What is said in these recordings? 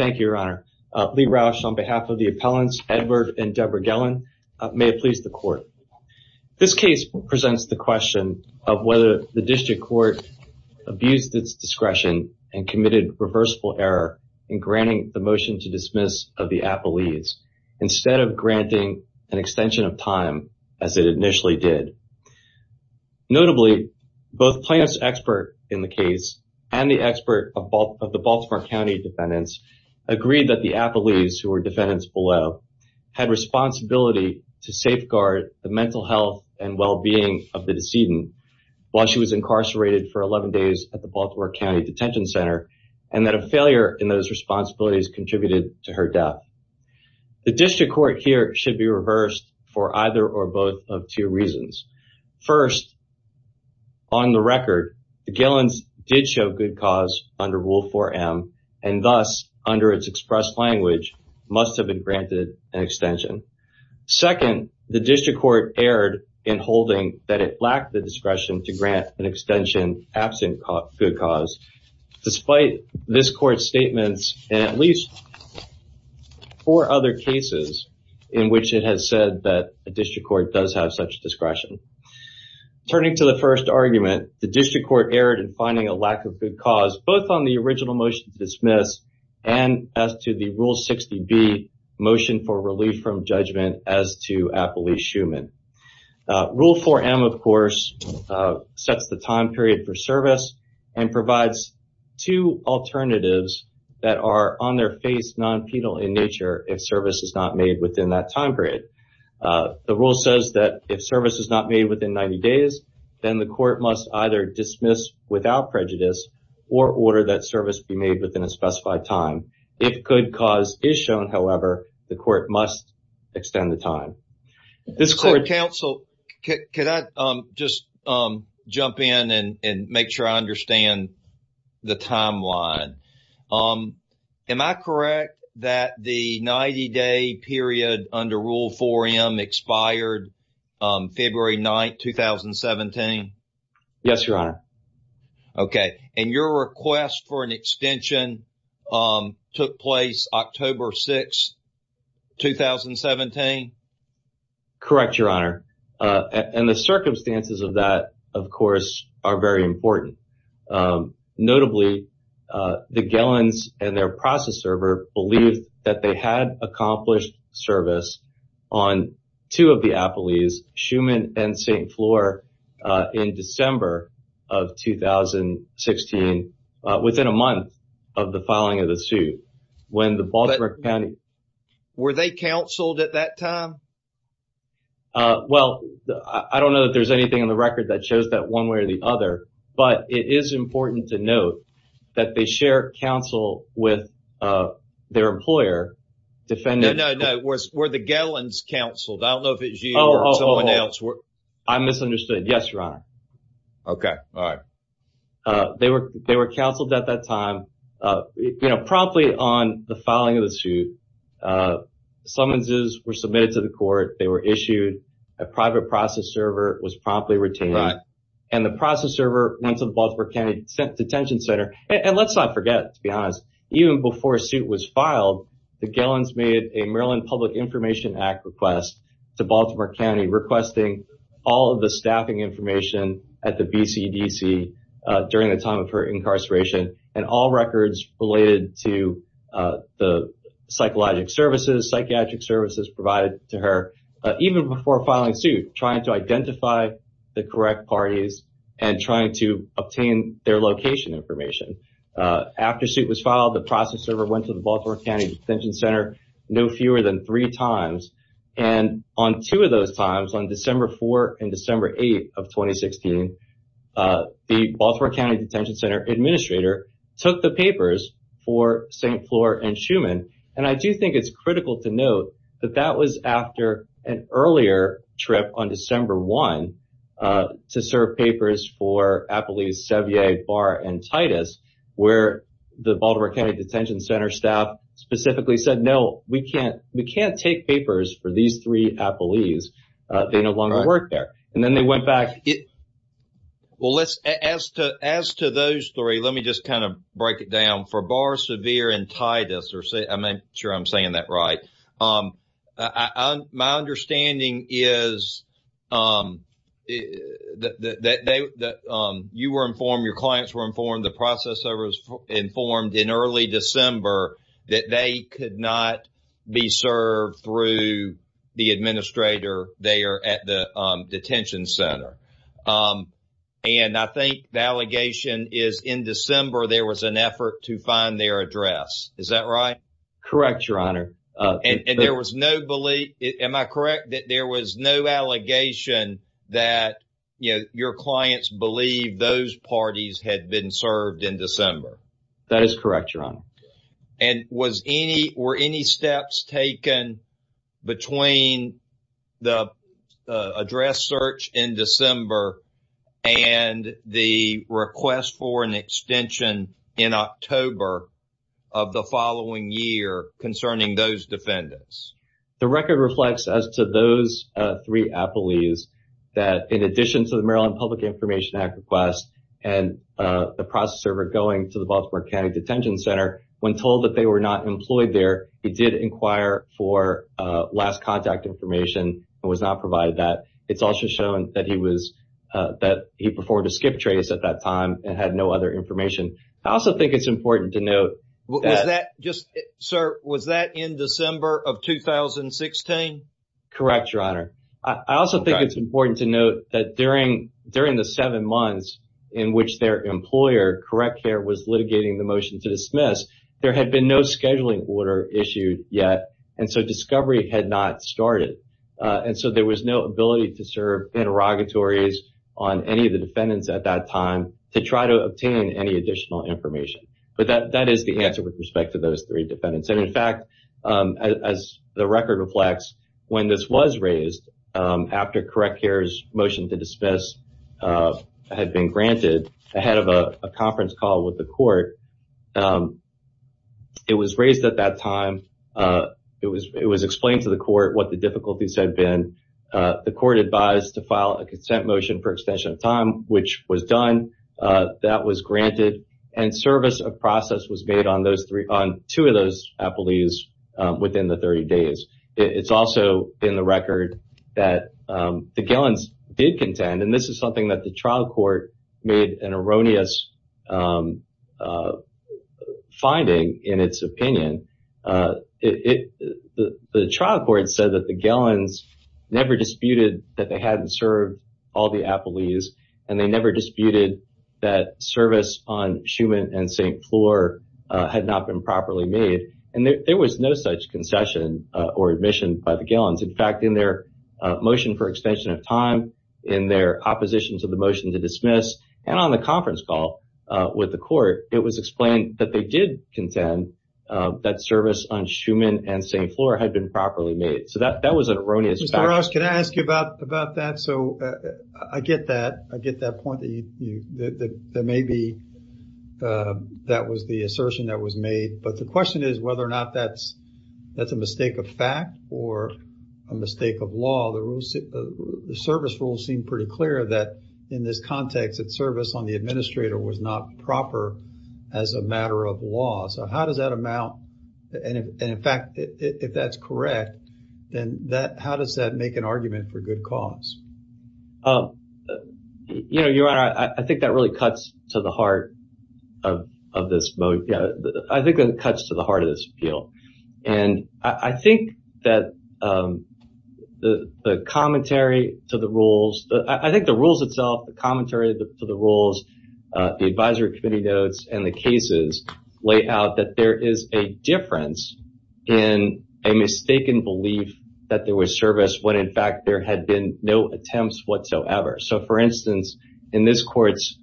Thank you, Your Honor. Lee Rauch, on behalf of the appellants, Edward and Debra Gelin, may it please the Court. This case presents the question of whether the District Court abused its discretion and committed reversible error in granting the motion to dismiss of the Appellees, instead of granting an extension of time, as it initially did. Notably, both plaintiffs' expert in the case, and the expert of the Baltimore County defendants, agreed that the Appellees, who were defendants below, had responsibility to safeguard the mental health and well-being of the decedent while she was incarcerated for 11 days at the Baltimore County Detention Center, and that a failure in those responsibilities contributed to her death. The District Court here should be reversed for either or both of two reasons. First, on the record, the Gelins did show good cause under Rule 4M, and thus, under its expressed language, must have been granted an extension. Second, the District Court erred in holding that it lacked the discretion to grant an extension absent good cause, despite this Court's statements in at least four other cases in which it has said that a District Court does have such discretion. Turning to the first argument, the District Court erred in finding a lack of good cause, both on the original motion to dismiss, and as to the Rule 60B motion for relief from judgment as to Appellee Schumann. Rule 4M, of course, sets the time period for service, and provides two alternatives that are on their face, non-penal in nature, if service is not made within that time period. The Rule says that if service is not made within 90 days, then the Court must either dismiss without prejudice or order that service be made within a specified time. If good cause is shown, however, the Court must extend the time. So, Counsel, can I just jump in and make sure I understand the timeline? Am I correct that the 90-day period under Rule 4M expired February 9, 2017? Yes, Your Honor. Okay. And your request for an extension took place October 6, 2017? Correct, Your Honor. And the circumstances of that, of course, are very important. Notably, the Gellins and their process server believed that they had accomplished service on two of the Appellees, Schumann and St. Floor, in December of 2016, within a month of the filing of the suit. Were they counseled at that time? Well, I don't know that there's anything in the record that shows that one way or the other, but it is important to note that they share counsel with their employer defending No, no, no. Were the Gellins counseled? I don't know if it was you or someone else. I misunderstood. Yes, Your Honor. Okay. All right. They were counseled at that time, promptly on the filing of the suit. Summonses were submitted to the Court. They were issued. A private process server was promptly retained. And the process server went to the Baltimore County Detention Center. And let's not forget, to be honest, even before a suit was filed, the Gellins made a Maryland Public Information Act request to Baltimore County requesting all of the staffing information at the BCDC during the time of her incarceration, and all records related to the psychological services, psychiatric services provided to her, even before filing suit, trying to identify the After the suit was filed, the process server went to the Baltimore County Detention Center no fewer than three times. And on two of those times, on December 4 and December 8 of 2016, the Baltimore County Detention Center administrator took the papers for St. Floor and Schumann. And I do think it's critical to note that that was after an earlier trip on December 1 to serve papers for Appelese, Sevier, Barr, and Titus, where the Baltimore County Detention Center staff specifically said, no, we can't take papers for these three Appelese. They no longer work there. And then they went back. Well, let's, as to those three, let me just kind of break it down for Barr, Sevier, and that you were informed, your clients were informed, the process server was informed in early December that they could not be served through the administrator there at the Detention Center. And I think the allegation is in December, there was an effort to find their address. Is that right? Correct, Your Honor. And there was no belief, am I correct, that there was no allegation that, you know, your clients believe those parties had been served in December? That is correct, Your Honor. And was any, were any steps taken between the address search in December and the request for an extension in October of the following year concerning those defendants? The record reflects as to those three Appelese that, in addition to the Maryland Public Information Act request and the process server going to the Baltimore County Detention Center, when told that they were not employed there, he did inquire for last contact information and was not provided that. It's also shown that he was, that he performed a skip trace at that time and had no other information. I also think it's important to note that... Was that just, sir, was that in December of 2016? Correct, Your Honor. I also think it's important to note that during the seven months in which their employer, Correct Care, was litigating the motion to dismiss, there had been no scheduling order issued yet. And so discovery had not started. And so there was no ability to serve interrogatories on any of the defendants at that time to try to obtain any additional information. But that is the answer with respect to those three defendants. And in fact, as the record reflects, when this was raised after Correct Care's motion to dismiss had been granted ahead of a conference call with the court, it was raised at that time, it was court advised to file a consent motion for extension of time, which was done, that was granted, and service of process was made on two of those appellees within the 30 days. It's also in the record that the Gillens did contend, and this is something that the trial court made an erroneous finding in its opinion. The trial court said that the Gillens never disputed that they hadn't served all the appellees, and they never disputed that service on Schumann and St. Floor had not been properly made. And there was no such concession or admission by the Gillens. In fact, in their motion for extension of time, in their opposition to the motion to dismiss, and on the conference call with the court, it was explained that they did contend that service on Schumann and St. Floor had been properly made. So that was an erroneous fact. Mr. Ross, can I ask you about that? So I get that. I get that point that maybe that was the assertion that was made, but the question is whether or not that's a mistake of fact or a mistake of law. The service rules seem pretty clear that in this context, that service on the administrator was not proper as a matter of law. So how does that amount, and in fact, if that's correct, then how does that make an argument for good cause? You know, Your Honor, I think that really cuts to the heart of this appeal. And I think that the commentary to the rules, I think the rules itself, the commentary to the rules, the advisory committee notes, and the cases lay out that there is a difference in a mistaken belief that there was service when, in fact, there had been no attempts whatsoever. So, for instance, in this court's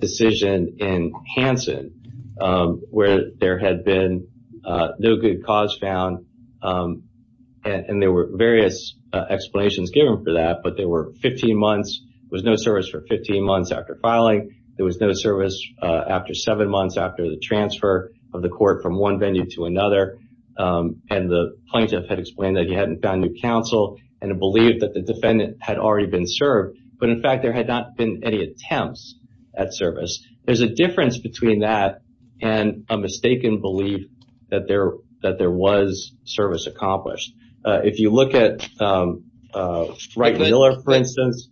decision in Hansen, where there had been no good cause found, and there were various explanations given for that, but there were 15 months, there was no service for 15 months after filing, there was no service after seven months after the transfer of the court from one venue to another, and the plaintiff had explained that he hadn't found new counsel and had believed that the defendant had already been served, but in fact, there had not been any attempts at service. There's a difference between that and a mistaken belief that there was service accomplished. If you look at Wright and Miller, for instance,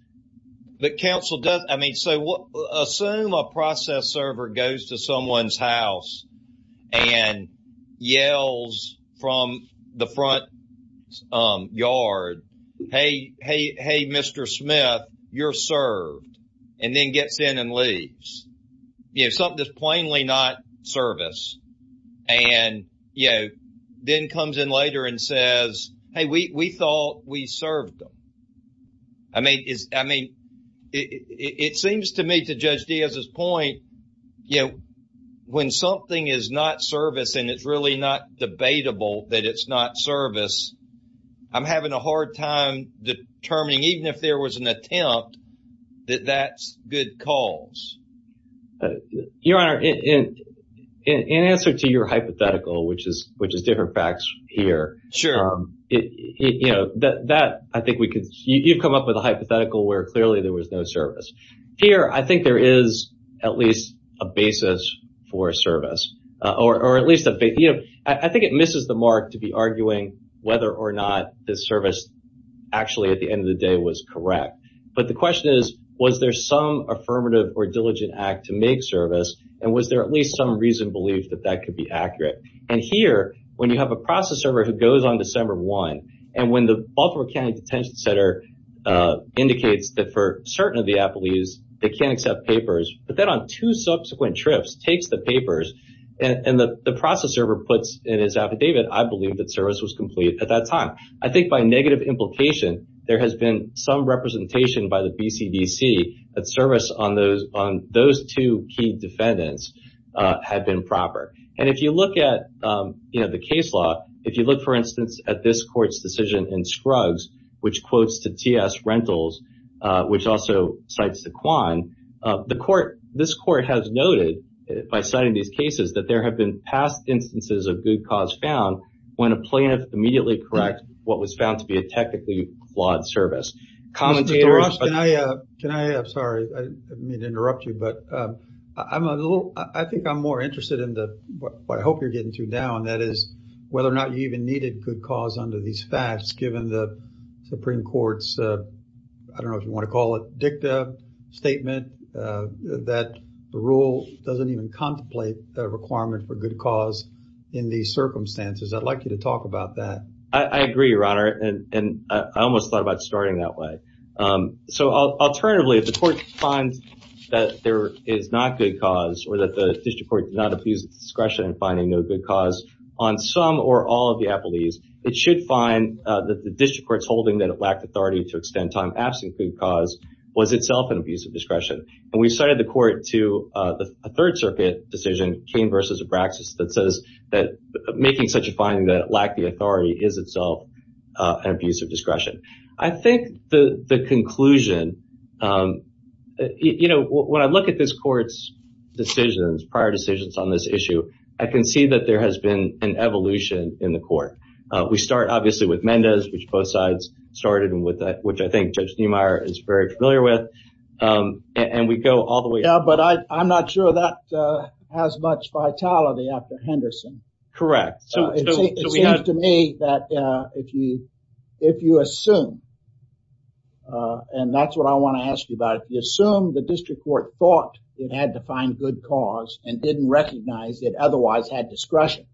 the counsel does, I mean, so assume a process server goes to someone's house and yells from the front yard, hey, hey, hey, Mr. Smith, you're served, and then gets in and leaves. You know, something that's plainly not service. And, you know, then comes in later and says, hey, we thought we served them. I mean, it seems to me, to Judge Diaz's point, you know, when something is not service and it's really not debatable that it's not service, I'm having a hard time determining, even if there was an attempt, that that's good cause. Your Honor, in answer to your hypothetical, which is different facts here, you know, that I think we could, you've come up with a hypothetical where clearly there was no service. Here, I think there is at least a basis for service, or at least, you know, I think it misses the mark to be arguing whether or not the service actually at the end of the day was correct. But the question is, was there some affirmative or diligent act to make service, and was there at least some reasoned belief that that could be accurate? And here, when you have a process server who goes on December 1, and when the Baltimore County Detention Center indicates that for certain of the appellees, they can't accept papers, but then on two subsequent trips, takes the papers, and the process server puts in his affidavit, I believe that service was complete at that time. I think by negative implication, there has been some representation by the BCDC that service on those two key defendants had been proper. And if you look at, you know, the case law, if you look, for instance, at this court's decision in Scruggs, which quotes to TS Rentals, which also cites the Kwan, the court, this court has noted, by citing these cases, that there have been past instances of good cause found, when a plaintiff immediately corrects what was found to be a technically flawed service. Commentator- Mr. Ross, can I, I'm sorry, I didn't mean to interrupt you, but I'm a little, I think I'm more interested in what I hope you're getting to now, and that is whether or not you even needed good cause under these facts, given the Supreme Court's, I don't know if you want to call it, dicta statement, that rule doesn't even contemplate the requirement for good cause in these circumstances. I'd like you to talk about that. Commentator- I agree, Your Honor, and I almost thought about starting that way. So, alternatively, if the court finds that there is not good cause, or that the district court did not abuse discretion in finding no good cause on some or all of the appellees, it should find that the district court's holding that it lacked authority to extend time absent good cause was itself an abuse of discretion. And we cited the court to a Third Circuit decision, Kane v. Abraxas, that says that making such a finding that it lacked the authority is itself an abuse of discretion. I think the conclusion, you know, when I look at this court's decisions, prior decisions on this issue, I can see that there has been an evolution in the court. We start, obviously, with Mendez, which both sides started, and which I think Judge Niemeyer is very after Henderson. It seems to me that if you assume, and that's what I want to ask you about, if you assume the district court thought it had to find good cause and didn't recognize it otherwise had discretion,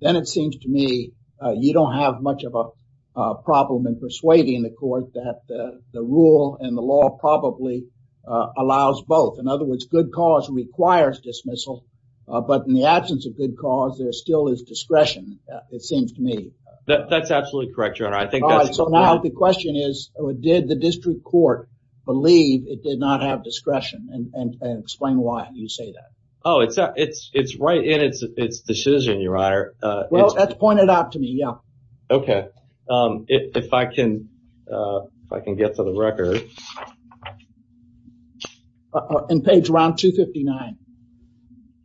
then it seems to me you don't have much of a problem in persuading the court that the rule and the law probably allows both. In other words, good cause requires dismissal but in the absence of good cause, there still is discretion, it seems to me. That's absolutely correct, your honor. I think that's... So now the question is, did the district court believe it did not have discretion? And explain why you say that. Oh, it's right in its decision, your honor. Well, that's pointed out to me, yeah. Okay. If I can get to the record. Okay. In page around 259.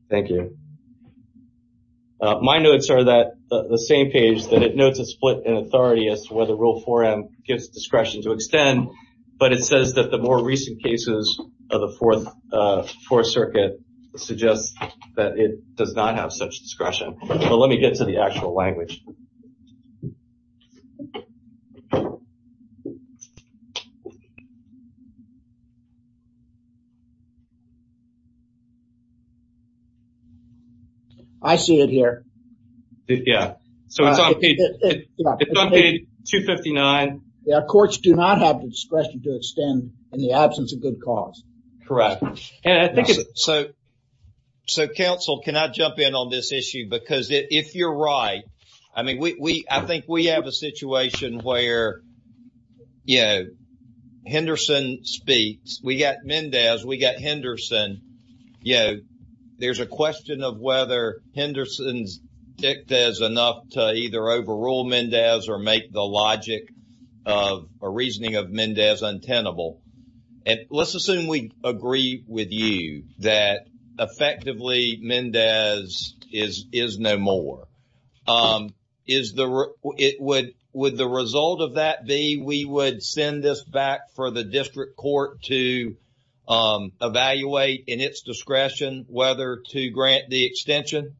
Thank you. My notes are that the same page that it notes a split in authority as to whether rule 4M gives discretion to extend, but it says that the more recent cases of the Fourth Circuit suggest that it does not have such discretion. But let me get to the actual language. I see it here. Yeah. So it's on page 259. Yeah. Courts do not have discretion to extend in the absence of good cause. Correct. And I think it's... So counsel, can I jump in on this issue? Because if you're right, I mean, I think we have a situation where, you know, Henderson speaks, we got Mendez, we got Henderson. You know, there's a question of whether Henderson's dicta is enough to either overrule Mendez or make the logic of a reasoning of Mendez untenable. And let's assume we agree with you that effectively Mendez is no more. Would the result of that be we would send this back for the district court to evaluate in its discretion whether to grant the extension?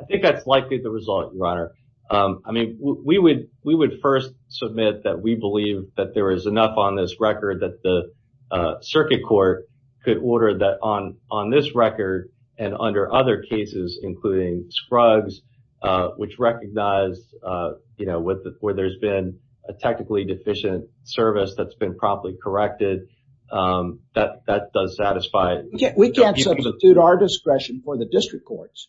I think that's likely the result, your honor. I mean, we would first submit that we believe that there is enough on this record that the circuit court could order that on this record and under other cases, including Scruggs, which recognized, you know, where there's been a technically deficient service that's been properly corrected. That does satisfy... We can't substitute our discretion for the district courts.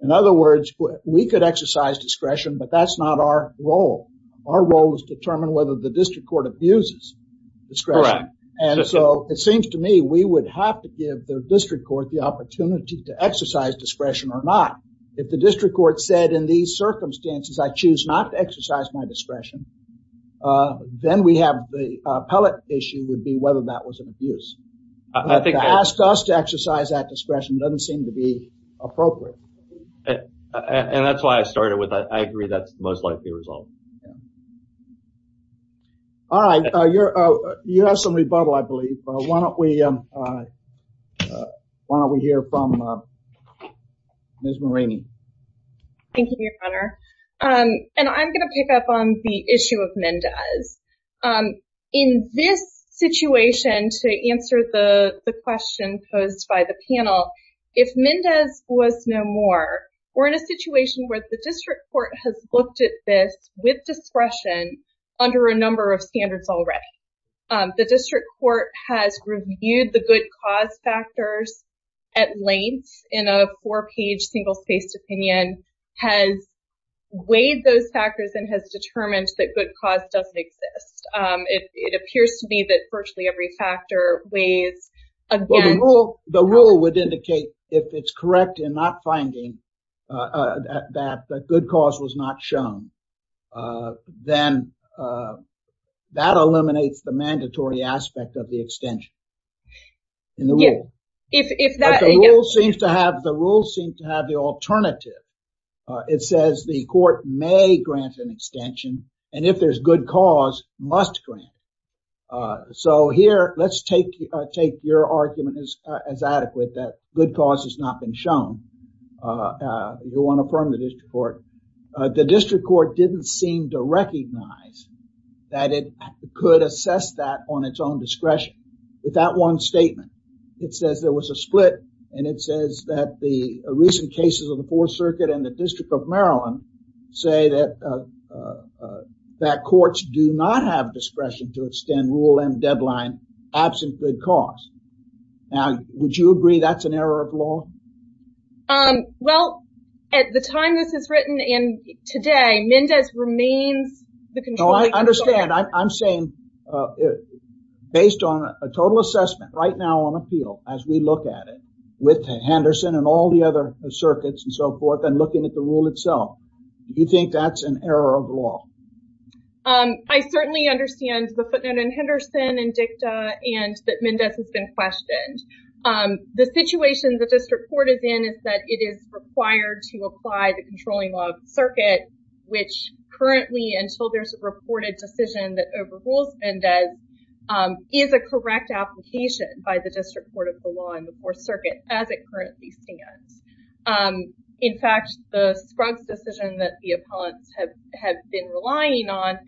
In other words, we could exercise discretion, but that's not our role. Our role is to determine whether the district court abuses discretion. And so it seems to me, we would have to give the district court the opportunity to exercise discretion or not. If the district court said in these circumstances, I choose not to exercise my discretion, then we have the appellate issue would be whether that was an abuse. To ask us to exercise that discretion doesn't seem to be appropriate. And that's why I started with that. I agree that's the most likely result. All right. You have some rebuttal, I believe. Why don't we hear from Ms. Marini. Thank you, your honor. And I'm going to pick up on the issue of Mendez. In this situation, to answer the question posed by the panel, if Mendez was no more, we're in a situation where the district court has looked at this with discretion under a number of standards already. The district court has reviewed the good cause factors at length in a four-page single-faced opinion, has weighed those factors and has determined that good cause doesn't exist. It appears to me that virtually every factor weighs against... The rule would indicate if it's correct in not finding that good cause was not shown, then that eliminates the mandatory aspect of the extension. The rule seems to have the alternative. It says the court may grant an extension. And if there's good cause, must grant. So here, let's take your argument as adequate, that good cause has not been shown. We want to affirm the district court. The district court didn't seem to recognize that it could assess that on its own discretion. With that one statement, it says there was a split. And it says that the recent cases of the fourth circuit and the that courts do not have discretion to extend Rule M deadline, absent good cause. Now, would you agree that's an error of law? Well, at the time this is written and today, Mendez remains the control... I understand. I'm saying, based on a total assessment right now on appeal, as we look at it, with Henderson and all the other circuits and so forth, and looking at the rule itself, you think that's an error of law? I certainly understand the footnote in Henderson and DICTA and that Mendez has been questioned. The situation the district court is in is that it is required to apply the controlling law of the circuit, which currently, until there's a reported decision that overrules Mendez, is a correct application by the district court of the law in the fourth circuit, as it currently stands. In fact, the Scruggs decision that the opponents have been relying on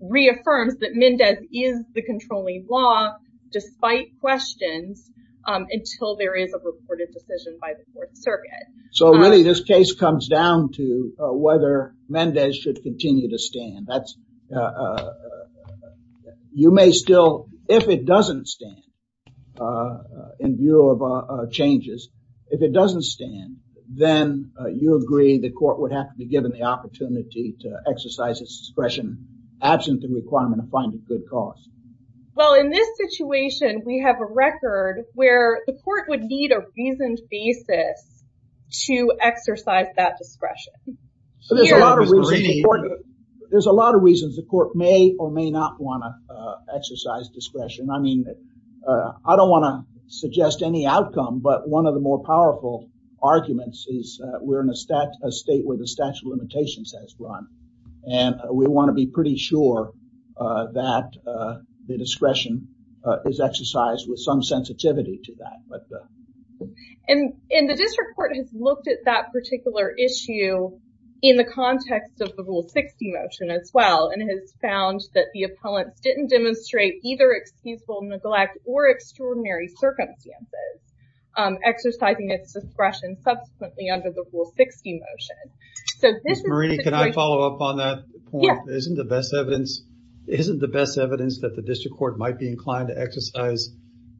reaffirms that Mendez is the controlling law, despite questions, until there is a reported decision by the fourth circuit. So really, this case comes down to whether Mendez should continue to stand. You may still, if it doesn't stand, in view of changes, if it doesn't stand, then you agree the court would have to be given the opportunity to exercise its discretion, absent the requirement to find a good cause. Well, in this situation, we have a record where the court would need a reasoned basis to exercise that discretion. There's a lot of reasons the court may or may not want to suggest any outcome, but one of the more powerful arguments is we're in a state where the statute of limitations has run, and we want to be pretty sure that the discretion is exercised with some sensitivity to that. And the district court has looked at that particular issue in the context of the Rule 60 motion as well, and has found that the opponents didn't demonstrate either peaceful neglect or extraordinary circumstances, exercising its discretion subsequently under the Rule 60 motion. Ms. Marini, can I follow up on that point? Yes. Isn't the best evidence that the district court might be inclined to exercise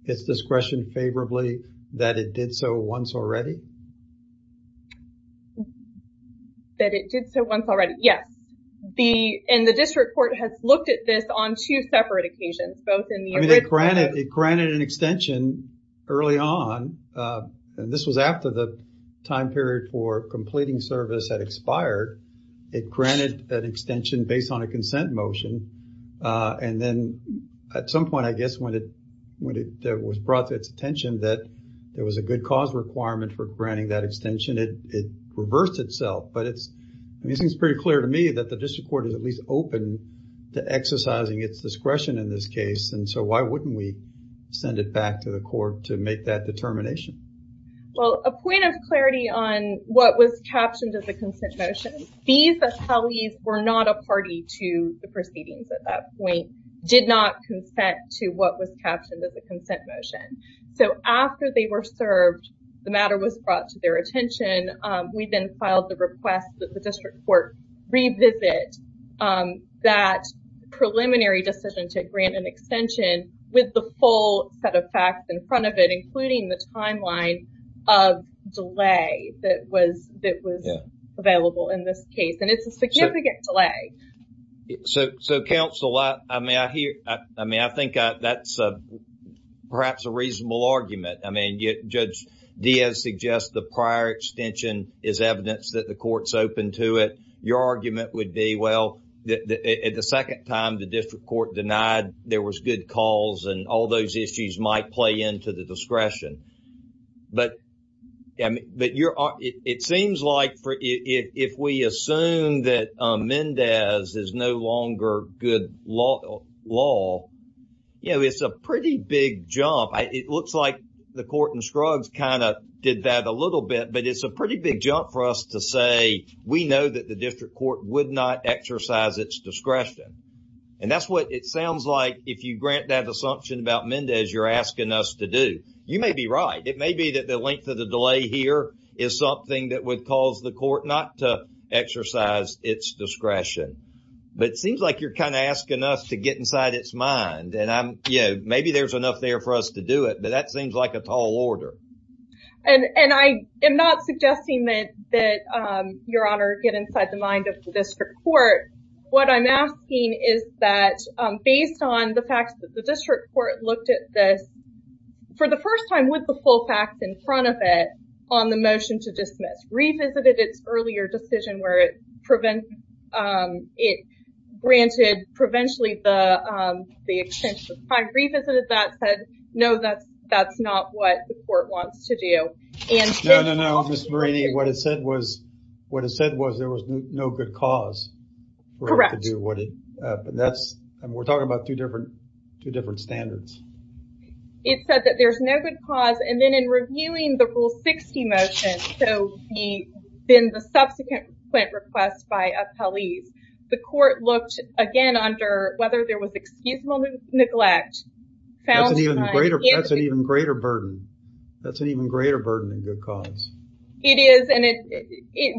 its discretion favorably that it did so once already? That it did so once already, yes. And the district court has looked at this on two separate occasions, both in the original- It granted an extension early on, and this was after the time period for completing service had expired. It granted that extension based on a consent motion, and then at some point, I guess, when it was brought to its attention that there was a good cause requirement for the district court to at least open to exercising its discretion in this case, and so why wouldn't we send it back to the court to make that determination? Well, a point of clarity on what was captioned as a consent motion. These attellees were not a party to the proceedings at that point, did not consent to what was captioned as a consent motion. So after they were served, the matter was brought to their attention. We then filed the request that district court revisit that preliminary decision to grant an extension with the full set of facts in front of it, including the timeline of delay that was available in this case, and it's a significant delay. So counsel, I think that's perhaps a reasonable argument. I mean, Judge Diaz suggests the prior extension is evidence that the court's open to it. Your argument would be, well, at the second time, the district court denied there was good cause, and all those issues might play into the discretion. But it seems like if we assume that Mendez is no longer good law, it's a pretty big jump. It looks like the court in Scruggs kind of did that a little bit, but it's a pretty big jump for us to say we know that the district court would not exercise its discretion. And that's what it sounds like if you grant that assumption about Mendez you're asking us to do. You may be right. It may be that the length of the delay here is something that would cause the court not to exercise its discretion. But it seems like you're kind of asking us to get inside its mind, and maybe there's enough there for us to do it, but that seems like a tall order. And I am not suggesting that, Your Honor, get inside the mind of the district court. What I'm asking is that based on the fact that the district court looked at this for the first time with the full facts in front of it on the motion to dismiss, revisited its earlier decision where it granted provincially the extension of time, revisited that, said no, that's not what the court wants to do. No, no, no, Ms. Marini, what it said was there was no good cause. Correct. We're talking about two different standards. It said that there's no good cause, and then in reviewing the Rule 60 motion, so then the subsequent request by appellees, the court looked again under whether there was excusable neglect. That's an even greater burden. That's an even greater burden than good cause. It is,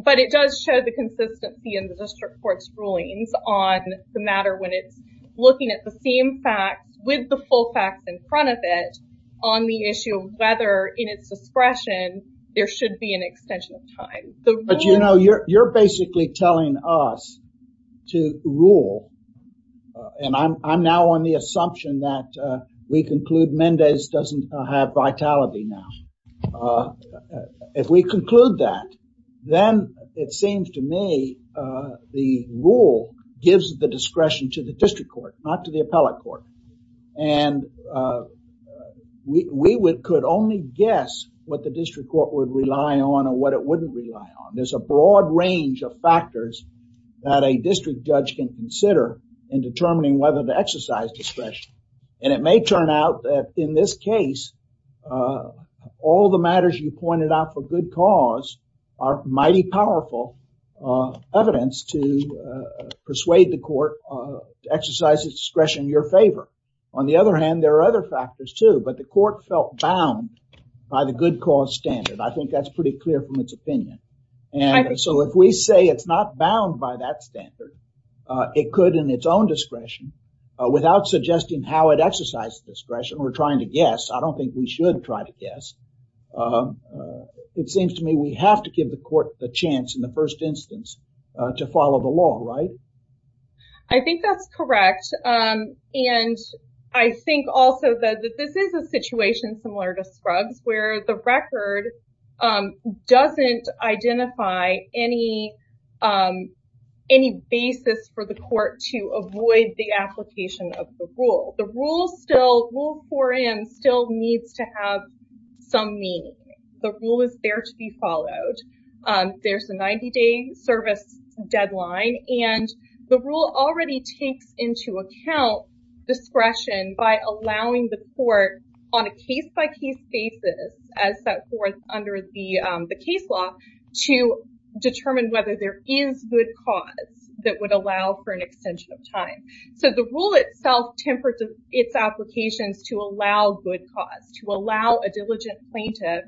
but it does show the consistency in the district court's rulings on the matter when it's looking at the same fact with the full facts in front of it on the issue of whether in its discretion there should be an extension of time. But, you know, you're basically telling us to rule, and I'm now on the assumption that we conclude Mendez doesn't have vitality now. If we conclude that, then it seems to me the rule gives the discretion to the district court, not to the appellate court, and we could only guess what the district court would rely on or what it wouldn't rely on. There's a broad range of factors that a district judge can consider in determining whether to exercise discretion, and it may turn out that in this case, all the matters you pointed out for good cause are mighty powerful evidence to persuade the court to exercise its discretion in your favor. On the other hand, there are other factors too, but the court felt bound by the good cause standard. I think that's pretty clear from its opinion, and so if we say it's not bound by that standard, it could in its own discretion without suggesting how it exercises discretion. We're trying to guess. I don't think we should try to guess. It seems to me we have to give the court the chance in the first instance to follow the law, right? I think that's correct, and I think also that this is a situation similar to Scruggs, where the record doesn't identify any basis for the court to avoid the application of the rule. The rule still, Rule 4M, still needs to have some meaning. The rule is there to be followed. There's a 90-day service deadline, and the rule already takes into account discretion by allowing the court on a case-by-case basis, as set forth under the case law, to determine whether there is good cause that would allow for an extension of time. So the rule itself tempered its applications to allow good cause, to allow a diligent plaintiff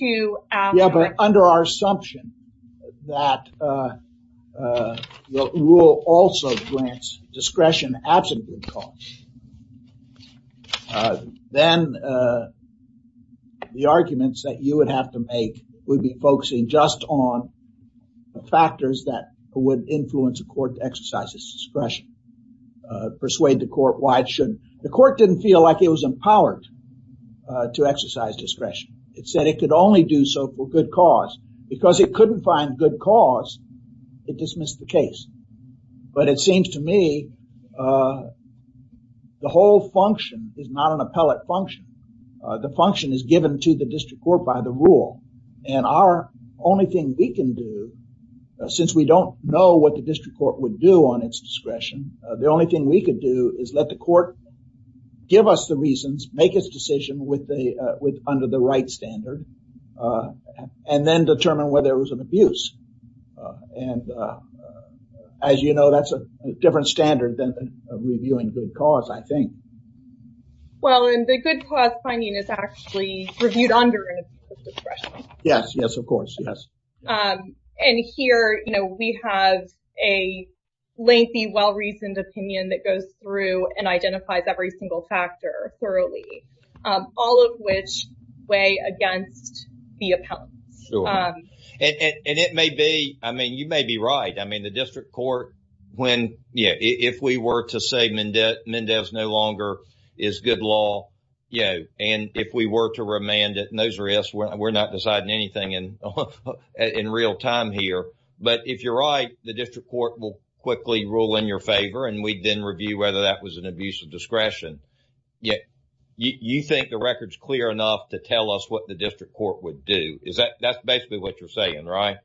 to- Yeah, but under our assumption that the rule also grants discretion absent good cause, then the arguments that you would have to make would be focusing just on factors that would influence a court to exercise its discretion, persuade the court why it didn't feel like it was empowered to exercise discretion. It said it could only do so for good cause. Because it couldn't find good cause, it dismissed the case. But it seems to me the whole function is not an appellate function. The function is given to the district court by the rule, and our only thing we can do, since we don't know what the district court would do on its discretion, the only thing we could do is let the court give us the reasons, make its decision under the right standard, and then determine whether it was an abuse. And as you know, that's a different standard than reviewing good cause, I think. Well, and the good cause finding is actually reviewed under discretion. Yes, yes, of course, yes. And here, you know, we have a lengthy, well-reasoned opinion that goes through and identifies every single factor thoroughly, all of which weigh against the appellants. And it may be, I mean, you may be right. I mean, the district court, when, yeah, if we were to say Mendez no longer is good law, you know, and if we were to remand it, and those are us, we're not deciding anything in real time here. But if you're right, the district court will quickly rule in your favor, and we'd then review whether that was an abuse of discretion. Yeah, you think the record's clear enough to tell us what the district court would do? Is that, that's basically what you're saying, right?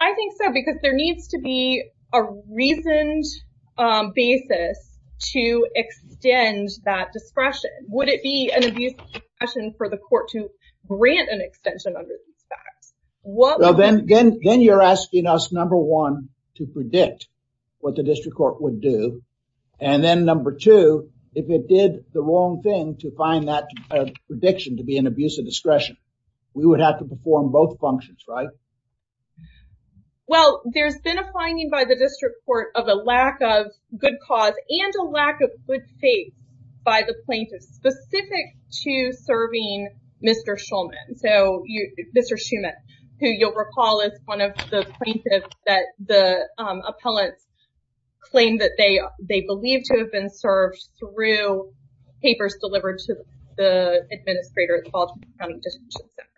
I think so, because there needs to be a reasoned basis to extend that discretion. Would it be an abuse of discretion for the court to grant an extension under these facts? Well, then you're asking us, number one, to predict what the district court would do. And then number two, if it did the wrong thing to find that prediction to be an abuse of discretion, we would have to perform both functions, right? Well, there's been a finding by the district court of a lack of good cause and a lack of good faith by the plaintiff specific to serving Mr. Shulman. So, Mr. Shulman, who you'll recall is one of the plaintiffs that the appellants claimed that they believed to have been served through papers delivered to the administrator at the Baltimore County Detention Center.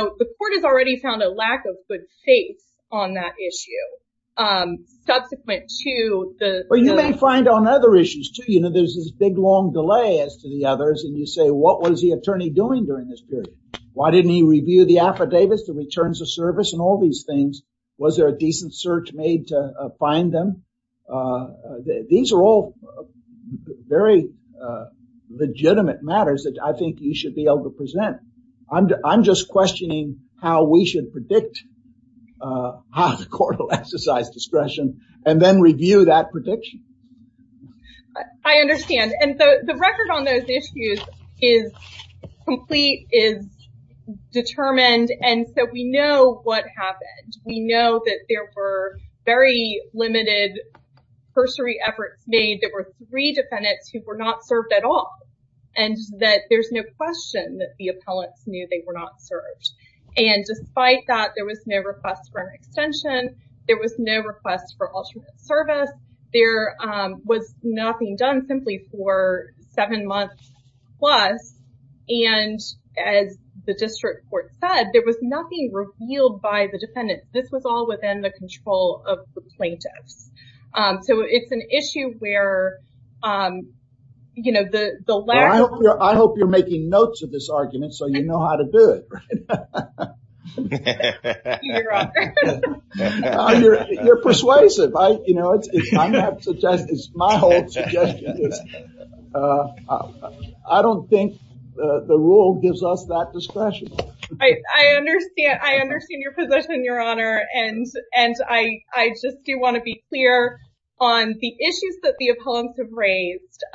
So, the court has already found a lack of good faith on that issue. Subsequent to the- Well, you may find on other issues too. You know, there's this big, long delay as to the others. And you say, what was the attorney doing during this period? Why didn't he review the affidavits, the returns of service and all these things? Was there a decent search made to find them? These are all very legitimate matters that I feel we should be able to present. I'm just questioning how we should predict how the court will exercise discretion and then review that prediction. I understand. And the record on those issues is complete, is determined. And so, we know what happened. We know that there were very limited cursory efforts made. There were three questions that the appellants knew they were not served. And despite that, there was no request for an extension. There was no request for alternate service. There was nothing done simply for seven months plus. And as the district court said, there was nothing revealed by the defendant. This was all within the control of the plaintiffs. So, it's an issue where, you know, the... I hope you're making notes of this argument so you know how to do it. You're persuasive. You know, it's my whole suggestion. I don't think the rule gives us that discretion. I understand. I understand your position, Your Honor. And I just do want to be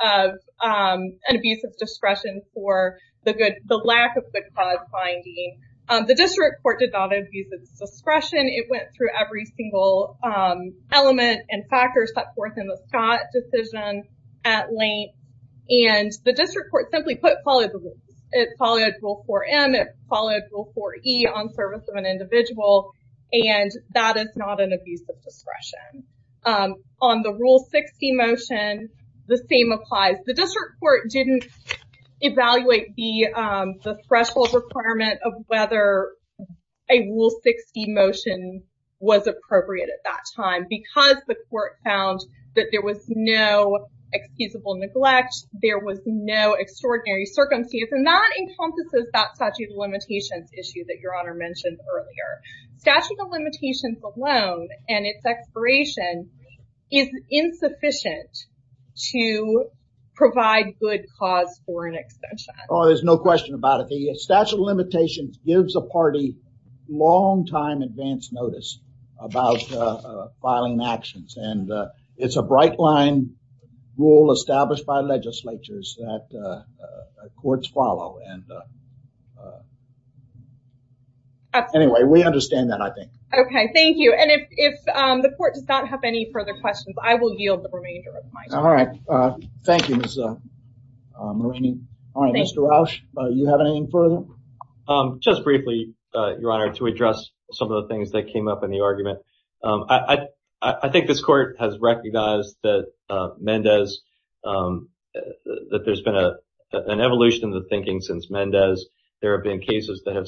of an abuse of discretion for the lack of good cause finding. The district court did not abuse its discretion. It went through every single element and factors set forth in the Scott decision at length. And the district court simply put... It followed Rule 4M. It followed Rule 4E on service of an individual. And that is not an abuse of discretion. On the Rule 60 motion, the same applies. The district court didn't evaluate the threshold requirement of whether a Rule 60 motion was appropriate at that time because the court found that there was no excusable neglect. There was no extraordinary circumstances. And that encompasses that statute of limitations issue that Your Honor mentioned earlier. Statute of limitations alone and its expiration is insufficient to provide good cause for an extension. Oh, there's no question about it. The statute of limitations gives a party long time advance notice about filing actions. And it's a bright line rule established by legislatures that courts follow. And anyway, we understand that, I think. Okay, thank you. And if the court does not have any further questions, I will yield the remainder of my time. All right. Thank you, Ms. Marini. All right, Mr. Rausch, you have anything further? Just briefly, Your Honor, to address some of the things that came up in the argument. I think this court has recognized that Mendez... That there's been an evolution of the thinking since Mendez. There have been cases that have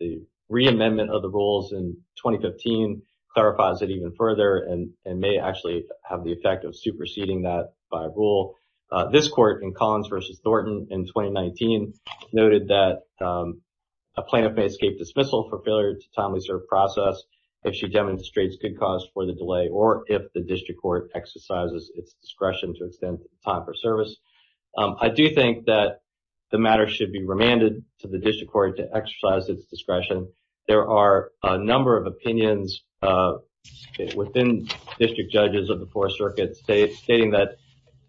the reamendment of the rules in 2015 clarifies it even further and may actually have the effect of superseding that by a rule. This court in Collins versus Thornton in 2019 noted that a plaintiff may escape dismissal for failure to timely serve process if she demonstrates good cause for the delay or if the district court exercises its discretion to extend time for service. I do think that the matter should be remanded to the district court to exercise its discretion. There are a number of opinions within district judges of the four circuits stating that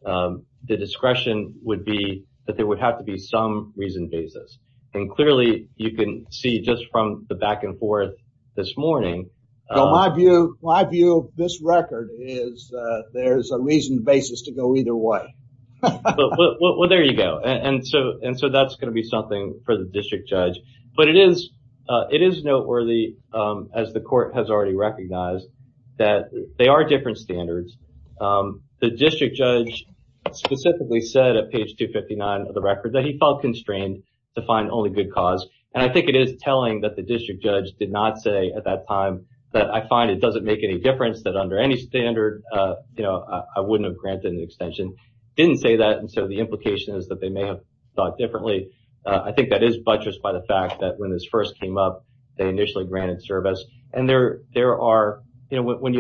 the discretion would be that there would have to be some reasoned basis. And clearly, you can see just from the back and forth this morning... My view of this record is that there's a reasoned basis to go either way. Well, there you go. And so that's going to be something for the district judge. But it is noteworthy as the court has already recognized that they are different standards. The district judge specifically said at page 259 of the record that he felt constrained to find only good cause. And I think it is telling that the district judge did not say at that time that I find it doesn't make any difference that under any standard, I wouldn't have granted an extension. Didn't say that. And so the implication is that they may have thought differently. I think that is buttressed by the fact that when this first came up, they initially granted service. When you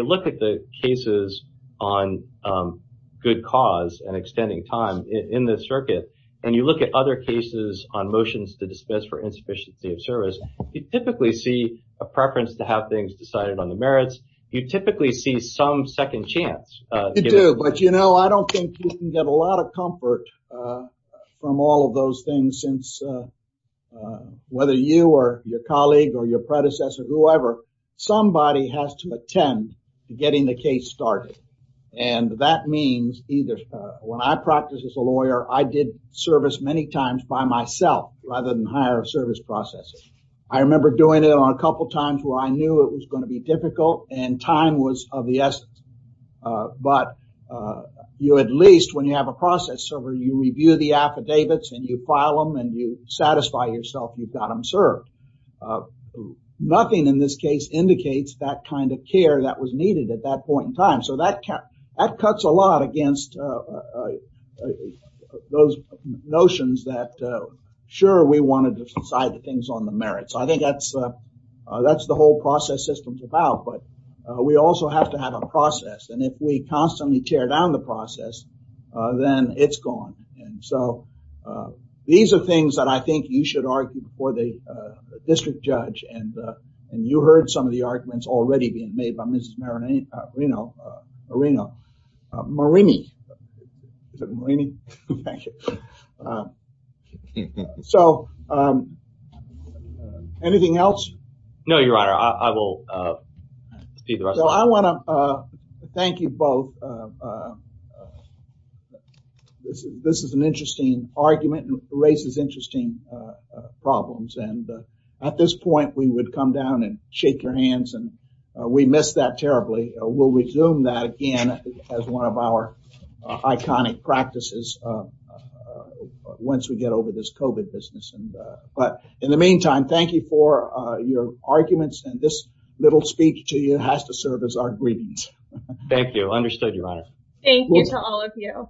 look at the cases on good cause and extending time in this circuit, and you look at other cases on motions to dismiss for insufficiency of service, you typically see a preference to have things decided on the merits. You typically see some second chance. But, you know, I don't think you can get a lot of comfort from all of those things since whether you or your colleague or your predecessor, whoever, somebody has to attend getting the case started. And that means either when I practice as a lawyer, I did service many times by myself rather than hire service processes. I remember doing it on times where I knew it was going to be difficult and time was of the essence. But you at least, when you have a process server, you review the affidavits and you file them and you satisfy yourself, you've got them served. Nothing in this case indicates that kind of care that was needed at that point in time. So that cuts a lot against those notions that sure, we wanted to decide the merits. I think that's the whole process system is about. But we also have to have a process. And if we constantly tear down the process, then it's gone. And so, these are things that I think you should argue before the district judge. And you heard some of the arguments already being made by Mrs. Marini. So, anything else? No, your honor, I will. I want to thank you both. This is an interesting argument and raises interesting problems. And at this point, we would come down and shake your hands. And we miss that terribly. We'll resume that again as one of our iconic practices once we get over this COVID business. But in the meantime, thank you for your arguments. And this little speech to you has to serve as our greetings. Thank you. Understood, your honor. Thank you to all of you.